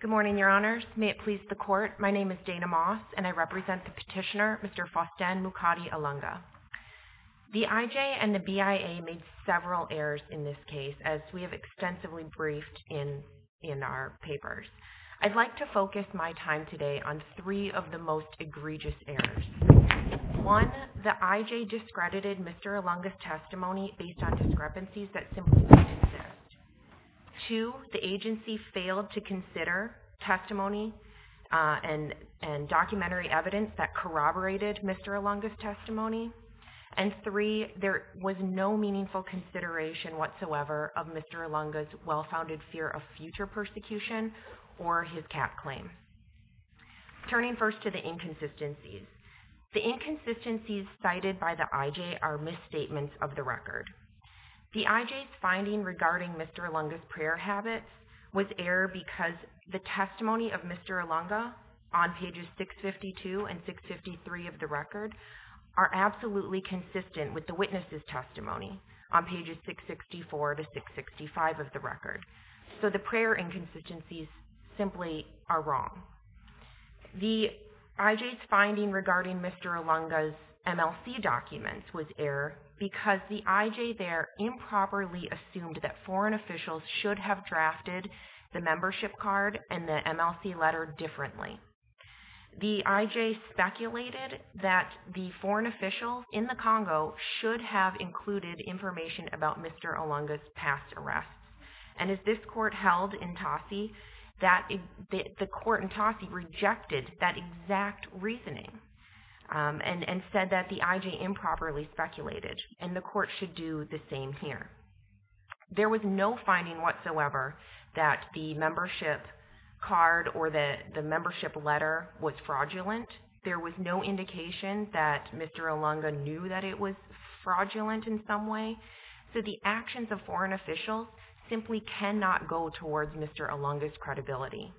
Good morning, Your Honours. May it please the Court, my name is Dana Moss and I represent the petitioner, Mr. Faustin Mukati Ilunga. The IJ and the BIA made several errors in this case, as we have extensively briefed in our papers. I'd like to focus my time today on three of the most egregious errors. One, the IJ discredited Mr. Ilunga's testimony based on discrepancies that simply did not exist. Two, the agency failed to consider testimony and documentary evidence that corroborated Mr. Ilunga's testimony. And three, there was no meaningful consideration whatsoever of Mr. Ilunga's well-founded fear of future persecution or his cap claim. Turning first to the inconsistencies. The inconsistencies cited by the IJ are misstatements of the record. The IJ's finding regarding Mr. Ilunga's prayer habits was error because the testimony of Mr. Ilunga on pages 652 and 653 of the record are absolutely consistent with the witness's testimony on pages 664 to 665 of the record. So the prayer inconsistencies simply are wrong. The IJ's finding regarding Mr. Ilunga's MLC documents was error because the IJ there improperly assumed that foreign officials should have drafted the membership card and the MLC letter differently. The IJ speculated that the foreign officials in the Congo should have included information about Mr. Ilunga's past arrests. And as this court held in Tassi, the court in Tassi rejected that exact reasoning and said that the IJ improperly speculated and the court should do the same here. There was no finding whatsoever that the membership card or the membership letter was fraudulent. There was no indication that Mr. Ilunga knew that it was fraudulent in some way. So the actions of foreign officials simply cannot go towards Mr. Ilunga's credibility.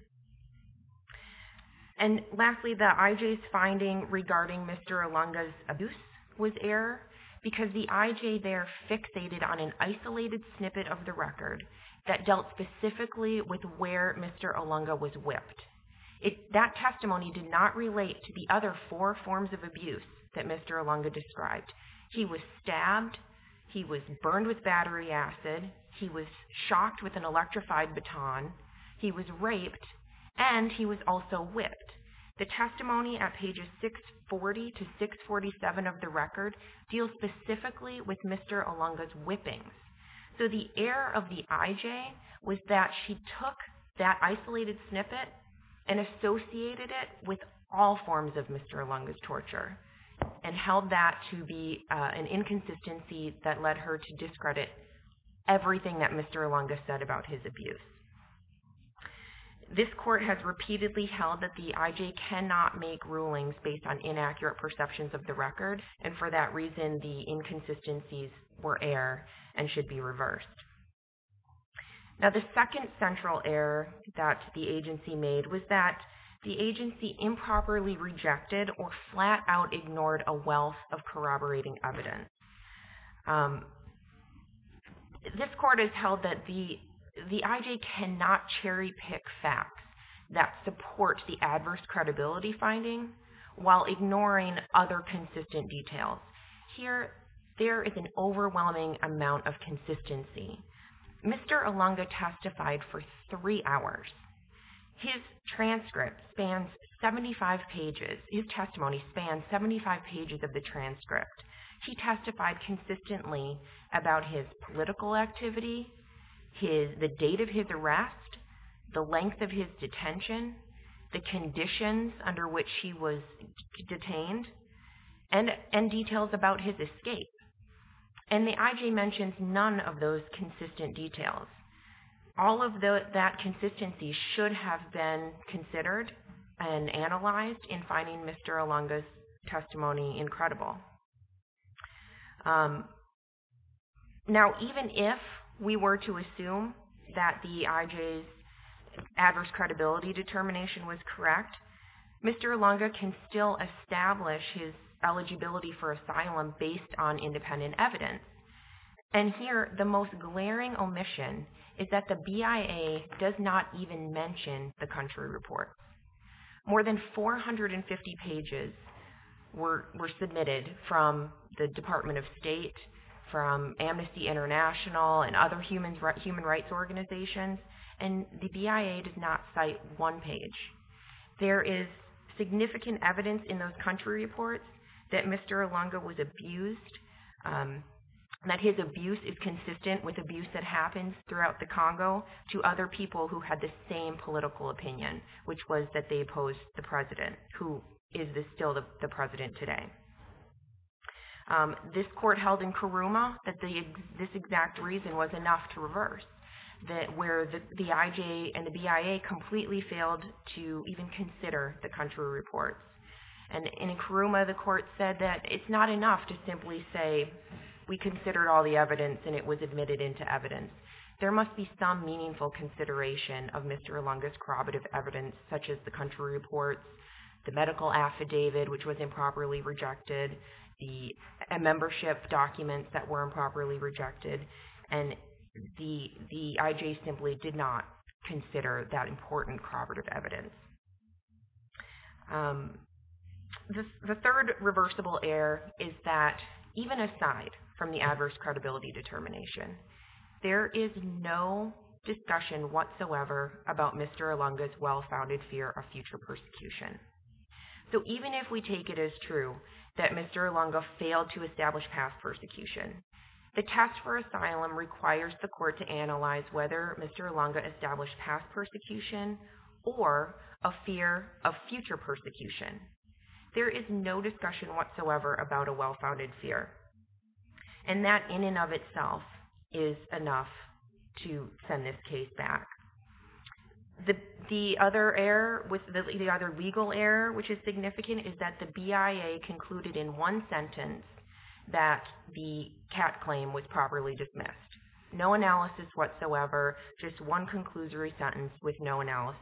And lastly, the IJ's finding regarding Mr. Ilunga's abuse was error because the IJ there fixated on an isolated snippet of the record that dealt specifically with where Mr. Ilunga was whipped. That testimony did not relate to the other four forms of abuse that Mr. Ilunga described. He was stabbed, he was burned with battery acid, he was shocked with an electrified baton, he was raped, and he was also whipped. The testimony at pages 640 to 647 of the record deals specifically with Mr. Ilunga's whipping. So the error of the IJ was that she took that isolated snippet and associated it with all forms of Mr. Ilunga's torture and held that to be an inconsistency that led her to discredit everything that Mr. Ilunga said about his abuse. This court has repeatedly held that the IJ cannot make rulings based on inaccurate perceptions of the record, and for that reason the inconsistencies were error and should be reversed. Now the second central error that the agency made was that the agency improperly rejected or flat out ignored a wealth of corroborating evidence. This court has held that the IJ cannot cherry pick facts that support the adverse credibility finding while ignoring other consistent details. Here, there is an overwhelming amount of consistency. Mr. Ilunga testified for three hours. His transcript spans 75 pages. His testimony spans 75 pages of the transcript. He testified consistently about his political activity, the date of his arrest, the length of his detention, the conditions under which he was detained, and details about his escape. And the IJ mentions none of those consistent details. All of that consistency should have been considered and analyzed in finding Mr. Ilunga's testimony incredible. Now even if we were to assume that the IJ's adverse credibility determination was correct, Mr. Ilunga can still establish his eligibility for asylum based on independent evidence. And here, the most glaring omission is that the BIA does not even mention the country report. More than 450 pages were submitted from the Department of State, from Amnesty International, and other human rights organizations, and the BIA did not cite one page. There is significant evidence in those country reports that Mr. Ilunga was abused, that his abuse is consistent with abuse that happens throughout the Congo to other people who had the same political opinion, which was that they opposed the president, who is still the president today. This court held in Karuma that this exact reason was enough to reverse, that where the IJ and the BIA completely failed to even consider the country reports. And in Karuma, the court said that it's not enough to simply say we considered all the evidence and it was admitted into evidence. There must be some meaningful consideration of Mr. Ilunga's corroborative evidence, such as the country reports, the medical affidavit, which was improperly rejected, the membership documents that were improperly rejected, and the IJ simply did not consider that important corroborative evidence. The third reversible error is that even aside from the adverse credibility determination, there is no discussion whatsoever about Mr. Ilunga's well-founded fear of future persecution. So even if we take it as true that Mr. Ilunga failed to establish past persecution, the task for asylum requires the court to analyze whether Mr. Ilunga established past persecution or a fear of future persecution. There is no discussion whatsoever about a well-founded fear. And that in and of itself is enough to send this case back. The other error, the other legal error, which is significant, is that the BIA concluded in one sentence that the CAT claim was properly dismissed. No analysis whatsoever, just one conclusory sentence with no analysis.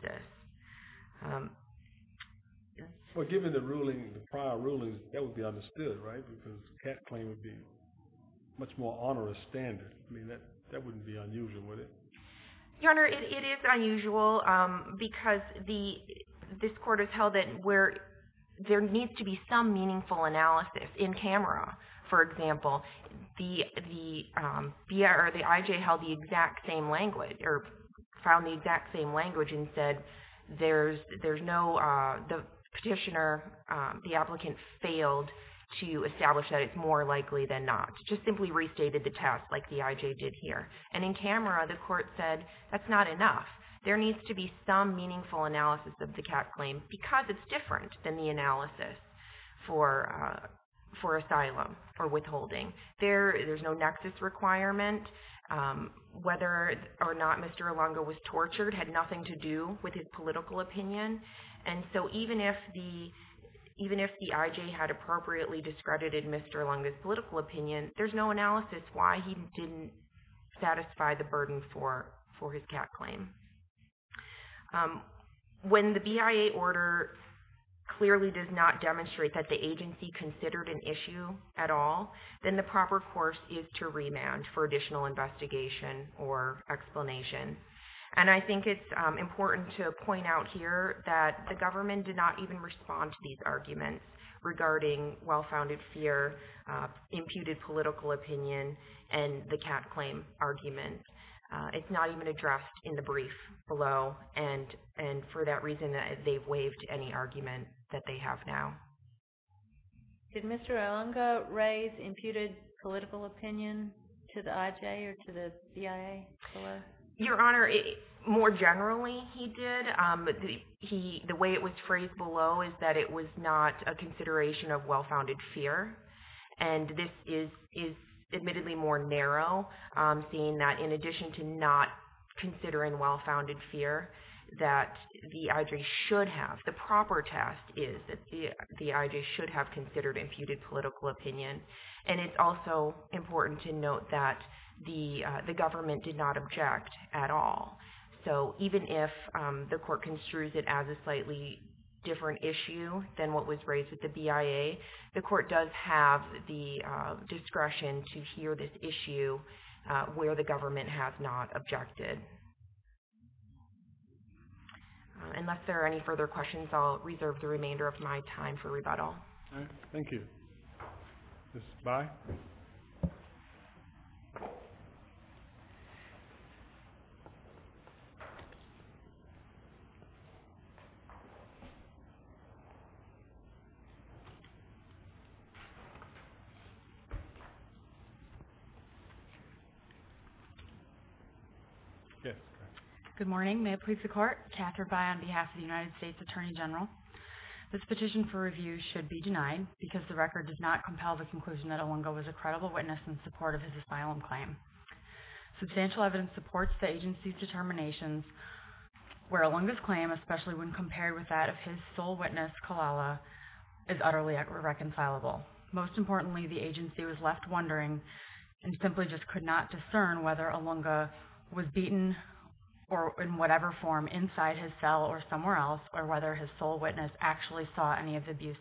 Well, given the ruling, the prior ruling, that would be understood, right? Because the CAT claim would be a much more onerous standard. I mean, that wouldn't be unusual, would it? Your Honor, it is unusual because this court has held it where there needs to be some meaningful analysis. In camera, for example, the BIA or the IJ held the exact same language or found the exact same language and said the petitioner, the applicant, failed to establish that it's more likely than not. Just simply restated the test like the IJ did here. And in camera, the court said that's not enough. There needs to be some meaningful analysis of the CAT claim because it's different than the analysis for asylum or withholding. There's no nexus requirement. Whether or not Mr. Ilunga was tortured had nothing to do with his political opinion. And so even if the IJ had appropriately discredited Mr. Ilunga's political opinion, there's no analysis why he didn't satisfy the burden for his CAT claim. When the BIA order clearly does not demonstrate that the agency considered an issue at all, then the proper course is to remand for additional investigation or explanation. And I think it's important to point out here that the government did not even respond to these arguments regarding well-founded fear, imputed political opinion, and the CAT claim argument. It's not even addressed in the brief below. And for that reason, they've waived any argument that they have now. Did Mr. Ilunga raise imputed political opinion to the IJ or to the BIA? Your Honor, more generally, he did. The way it was phrased below is that it was not a consideration of well-founded fear. And this is admittedly more narrow, seeing that in addition to not considering well-founded fear that the IJ should have, the proper test is that the IJ should have considered imputed political opinion. And it's also important to note that the government did not object at all. So even if the court construes it as a slightly different issue than what was raised with the BIA, the court does have the discretion to hear this issue where the government has not objected. Unless there are any further questions, I'll reserve the remainder of my time for rebuttal. All right. Thank you. Ms. By? Good morning. May it please the Court? Catherine By on behalf of the United States Attorney General. This petition for review should be denied because the record does not compel the conclusion that Ilunga was a credible witness in support of his asylum claim. Substantial evidence supports the agency's determinations where Ilunga's claim, especially when compared with that of his sole witness, Kalala, is utterly irreconcilable. Most importantly, the agency was left wondering and simply just could not discern whether Ilunga was beaten or, in whatever form, inside his cell or somewhere else, or whether his sole witness actually saw any of the abuse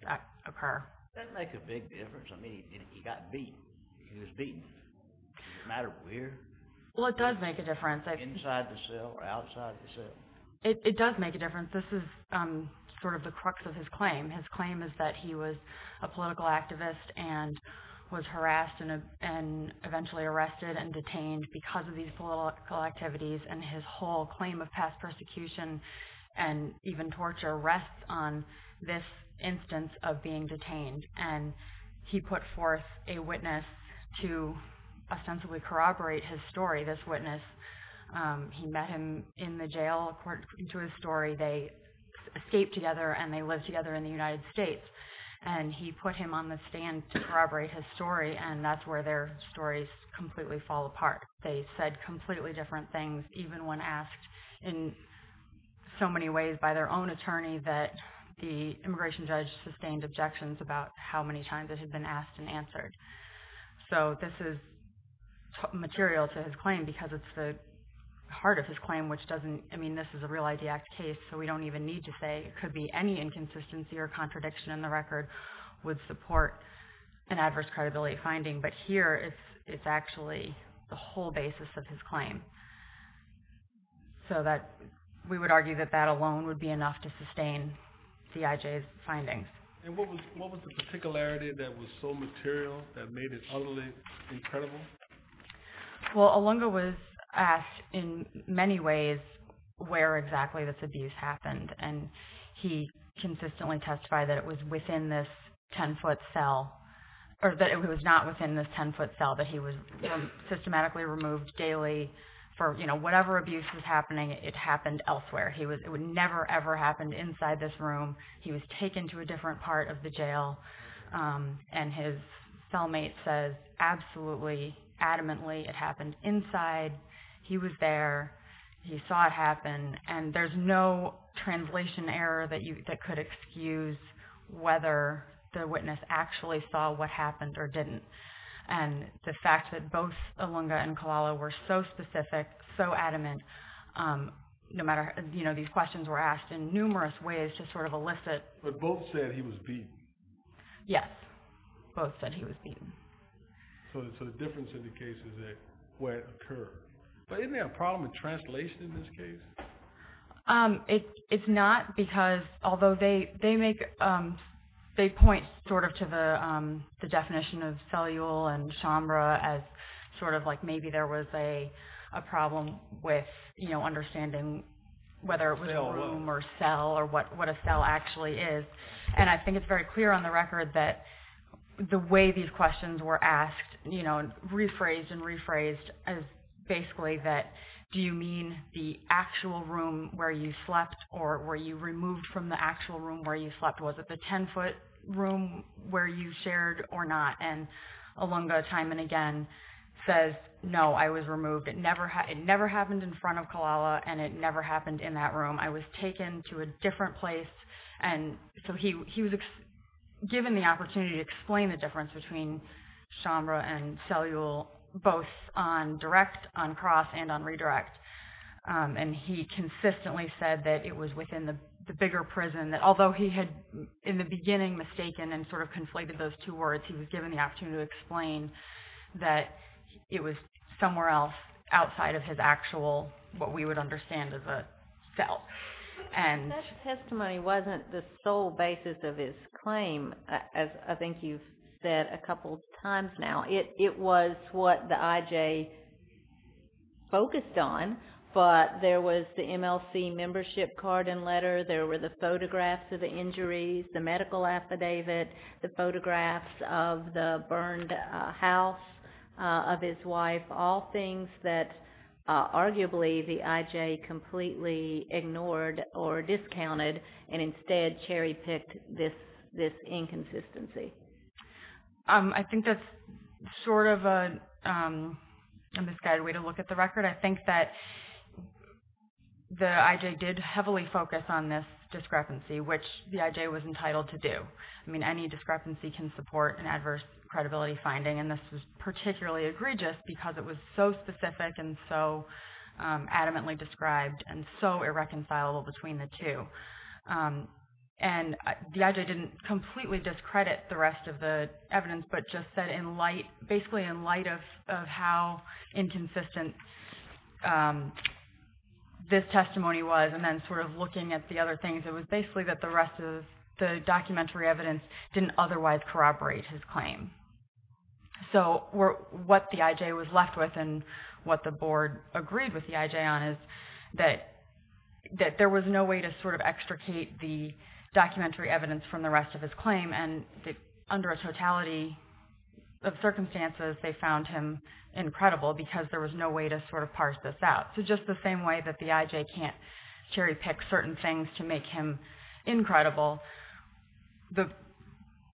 occur. It doesn't make a big difference. I mean, he got beat. He was beaten. It doesn't matter where. Well, it does make a difference. This is sort of the crux of his claim. His claim is that he was a political activist and was harassed and eventually arrested and detained because of these political activities. And his whole claim of past persecution and even torture rests on this instance of being detained. And he put forth a witness to ostensibly corroborate his story, this witness. He met him in the jail. According to his story, they escaped together and they lived together in the United States. And he put him on the stand to corroborate his story, and that's where their stories completely fall apart. They said completely different things, even when asked in so many ways by their own attorney that the immigration judge sustained objections about how many times it had been asked and answered. So this is material to his claim because it's the heart of his claim, which doesn't – I mean, this is a Real ID Act case, so we don't even need to say. It could be any inconsistency or contradiction in the record would support an adverse credibility finding. But here, it's actually the whole basis of his claim. So we would argue that that alone would be enough to sustain CIJ's findings. And what was the particularity that was so material that made it utterly incredible? Well, Alunga was asked in many ways where exactly this abuse happened, and he consistently testified that it was within this 10-foot cell – or that it was not within this 10-foot cell, that he was systematically removed daily for – whatever abuse was happening, it happened elsewhere. It never, ever happened inside this room. He was taken to a different part of the jail, and his cellmate says, absolutely, adamantly, it happened inside. He was there. He saw it happen. And there's no translation error that could excuse whether the witness actually saw what happened or didn't. And the fact that both Alunga and Kalala were so specific, so adamant, no matter – these questions were asked in numerous ways to sort of elicit – But both said he was beaten. Yes. Both said he was beaten. So the difference in the case is where it occurred. But isn't there a problem with translation in this case? It's not, because although they make – they point sort of to the definition of cellule and chambra as sort of like maybe there was a problem with understanding whether it was a room or cell or what a cell actually is. And I think it's very clear on the record that the way these questions were asked, you know, rephrased and rephrased as basically that do you mean the actual room where you slept or were you removed from the actual room where you slept? Was it the 10-foot room where you shared or not? And Alunga time and again says, no, I was removed. It never happened in front of Kalala, and it never happened in that room. I was taken to a different place. And so he was given the opportunity to explain the difference between chambra and cellule both on direct, on cross, and on redirect. And he consistently said that it was within the bigger prison, that although he had in the beginning mistaken and sort of conflated those two words, he was given the opportunity to explain that it was somewhere else outside of his actual – what we would understand as a cell. That testimony wasn't the sole basis of his claim, as I think you've said a couple times now. It was what the IJ focused on, but there was the MLC membership card and letter. There were the photographs of the injuries, the medical affidavit, the photographs of the burned house of his wife, all things that arguably the IJ completely ignored or discounted and instead cherry-picked this inconsistency. I think that's sort of a misguided way to look at the record. I think that the IJ did heavily focus on this discrepancy, which the IJ was entitled to do. I mean, any discrepancy can support an adverse credibility finding, and this was particularly egregious because it was so specific and so adamantly described and so irreconcilable between the two. The IJ didn't completely discredit the rest of the evidence, but just said basically in light of how inconsistent this testimony was and then sort of looking at the other things, it was basically that the rest of the documentary evidence didn't otherwise corroborate his claim. So what the IJ was left with and what the board agreed with the IJ on is that there was no way to sort of extricate the documentary evidence from the rest of his claim, and under a totality of circumstances, they found him incredible because there was no way to sort of parse this out. So just the same way that the IJ can't cherry-pick certain things to make him incredible,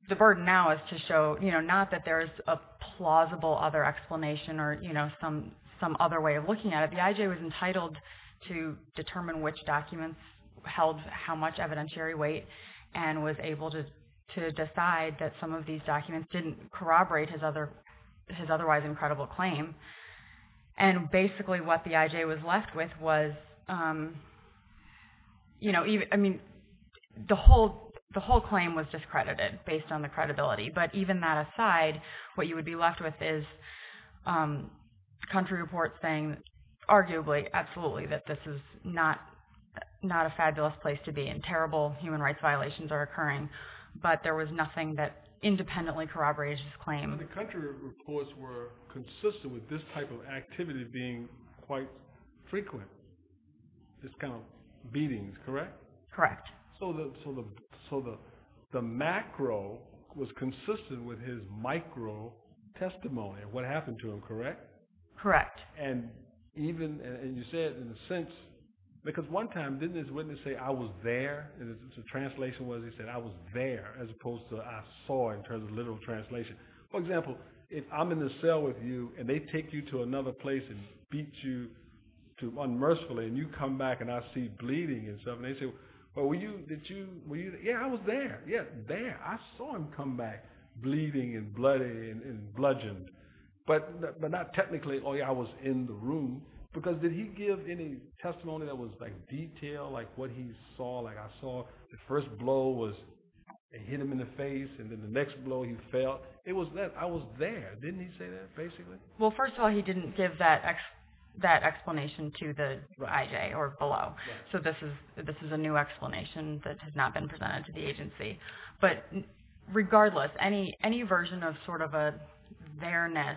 the burden now is to show not that there's a plausible other explanation or some other way of looking at it. The IJ was entitled to determine which documents held how much evidentiary weight and was able to decide that some of these documents didn't corroborate his otherwise incredible claim. And basically what the IJ was left with was the whole claim was discredited based on the credibility, but even that aside, what you would be left with is country reports saying arguably, absolutely, that this is not a fabulous place to be and terrible human rights violations are occurring, but there was nothing that independently corroborated his claim. Now the country reports were consistent with this type of activity being quite frequent, this kind of beatings, correct? Correct. So the macro was consistent with his micro-testimony of what happened to him, correct? Correct. And you said in a sense, because one time, didn't his witness say, I was there? The translation was, he said, I was there as opposed to I saw in terms of literal translation. For example, if I'm in the cell with you and they take you to another place and beat you unmercifully and you come back and I see bleeding and stuff, and they say, well, were you, did you, were you, yeah, I was there, yeah, there. I saw him come back bleeding and bloody and bludgeoned. But not technically, oh, yeah, I was in the room, because did he give any testimony that was detailed, like what he saw, like I saw the first blow was they hit him in the face and then the next blow he fell. It was that I was there. Didn't he say that, basically? Well, first of all, he didn't give that explanation to the IJ or below. So this is a new explanation that has not been presented to the agency. But regardless, any version of sort of a there-ness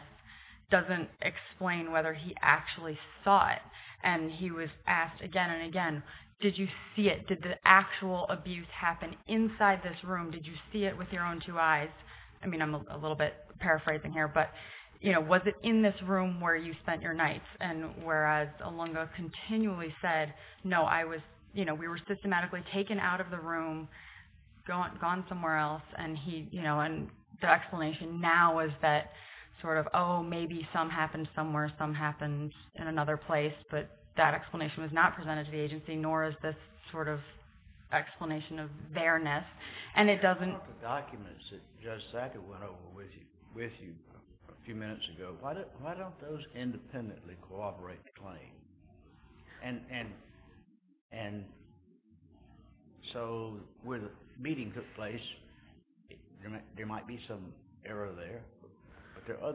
doesn't explain whether he actually saw it. And he was asked again and again, did you see it? Did the actual abuse happen inside this room? Did you see it with your own two eyes? I mean, I'm a little bit paraphrasing here. But was it in this room where you spent your nights? And whereas Alunga continually said, no, we were systematically taken out of the room, gone somewhere else. And the explanation now is that sort of, oh, maybe some happened somewhere, some happened in another place. But that explanation was not presented to the agency, nor is this sort of explanation of there-ness. The documents that Judge Sackett went over with you a few minutes ago, why don't those independently corroborate the claim? And so where the meeting took place, there might be some error there. But there are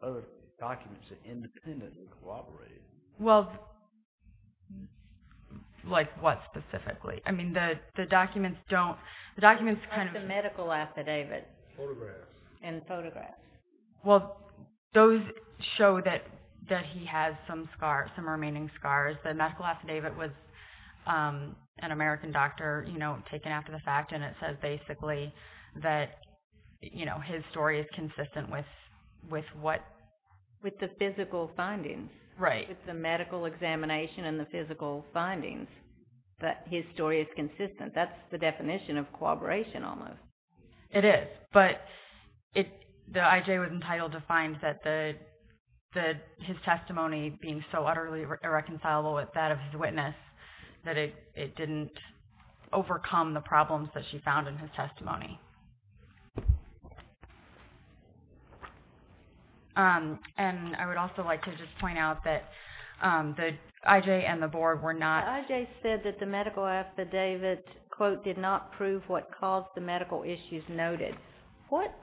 other documents that independently corroborate it. Well, like what specifically? I mean, the documents don't – the documents kind of – Like the medical affidavit. Photographs. And photographs. Well, those show that he has some scars, some remaining scars. The medical affidavit was an American doctor, you know, taken after the fact. And it says basically that, you know, his story is consistent with what – With the physical findings. Right. I think it's the medical examination and the physical findings that his story is consistent. That's the definition of corroboration almost. It is. But the IJ was entitled to find that his testimony being so utterly irreconcilable with that of his witness that it didn't overcome the problems that she found in his testimony. And I would also like to just point out that the IJ and the Board were not – The IJ said that the medical affidavit, quote, did not prove what caused the medical issues noted. What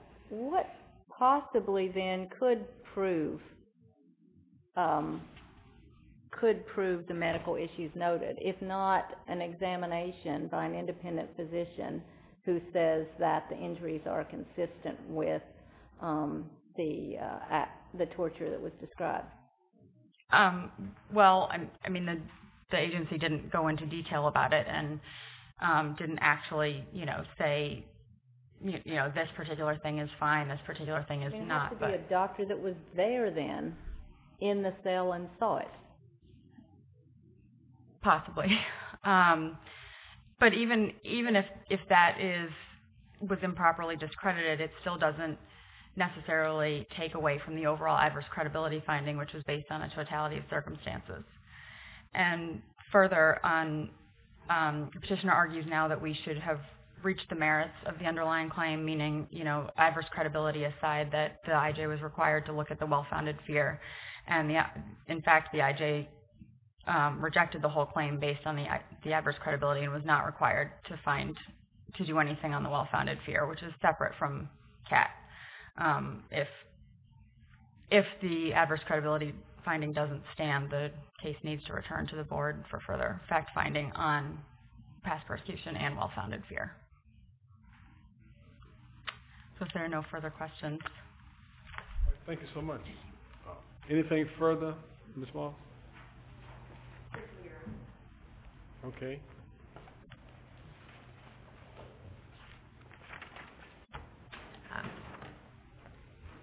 possibly then could prove the medical issues noted, if not an examination by an independent physician who says that the injuries are consistent with the torture that was described? Well, I mean, the agency didn't go into detail about it and didn't actually, you know, say, you know, this particular thing is fine, this particular thing is not. It could be a doctor that was there then in the cell and saw it. Possibly. But even if that was improperly discredited, it still doesn't necessarily take away from the overall adverse credibility finding, which was based on a totality of circumstances. And further, the petitioner argues now that we should have reached the merits of the underlying claim, meaning, you know, adverse credibility aside, that the IJ was required to look at the well-founded fear. And in fact, the IJ rejected the whole claim based on the adverse credibility and was not required to find – to do anything on the well-founded fear, which is separate from CAT. If the adverse credibility finding doesn't stand, the case needs to return to the Board for further fact-finding on past prosecution and well-founded fear. So if there are no further questions. Thank you so much. Anything further, Ms. Wall? Okay.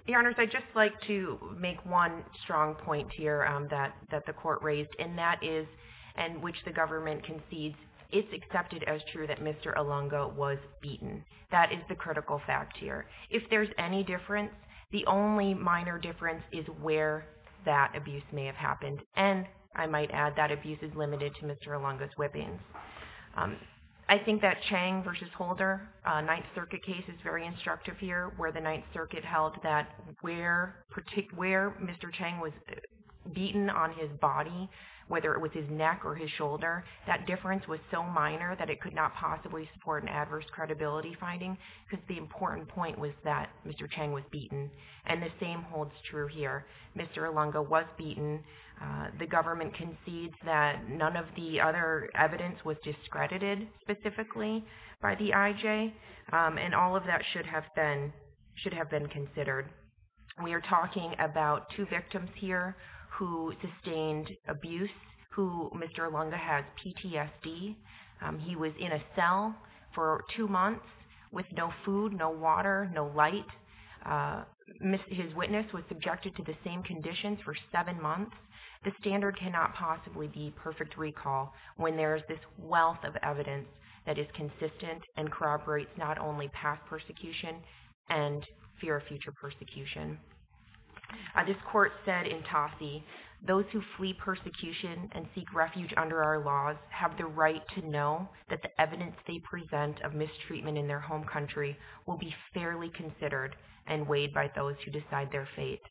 Your Honors, I'd just like to make one strong point here that the Court raised, and that is in which the government concedes it's accepted as true that Mr. Alunga was beaten. That is the critical fact here. If there's any difference, the only minor difference is where that abuse may have happened. And I might add that abuse is limited to Mr. Alunga's whippings. I think that Chang v. Holder, Ninth Circuit case is very instructive here, where the Ninth Circuit held that where Mr. Chang was beaten on his body, whether it was his neck or his shoulder, that difference was so minor that it could not possibly support an adverse credibility finding because the important point was that Mr. Chang was beaten. And the same holds true here. Mr. Alunga was beaten. The government concedes that none of the other evidence was discredited specifically by the IJ, and all of that should have been considered. We are talking about two victims here who sustained abuse, who Mr. Alunga has PTSD. He was in a cell for two months with no food, no water, no light. His witness was subjected to the same conditions for seven months. The standard cannot possibly be perfect recall when there is this wealth of evidence that is consistent and corroborates not only past persecution and fear of future persecution. This court said in Tosse, those who flee persecution and seek refuge under our laws have the right to know that the evidence they present of mistreatment in their home country will be fairly considered and weighed by those who decide their fate.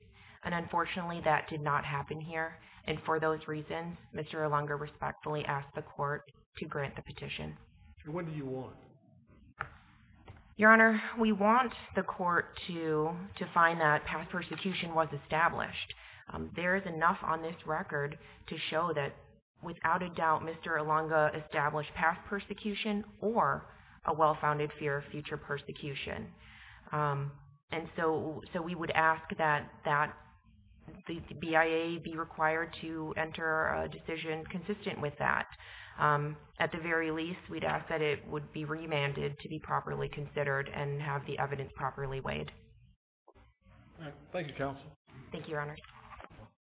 And unfortunately, that did not happen here. And for those reasons, Mr. Alunga respectfully asked the court to grant the petition. What do you want? Your Honor, we want the court to find that past persecution was established. There is enough on this record to show that, without a doubt, Mr. Alunga established past persecution or a well-founded fear of future persecution. And so we would ask that the BIA be required to enter a decision consistent with that. At the very least, we'd ask that it would be remanded to be properly considered and have the evidence properly weighed. Thank you, counsel. Thank you, Your Honor.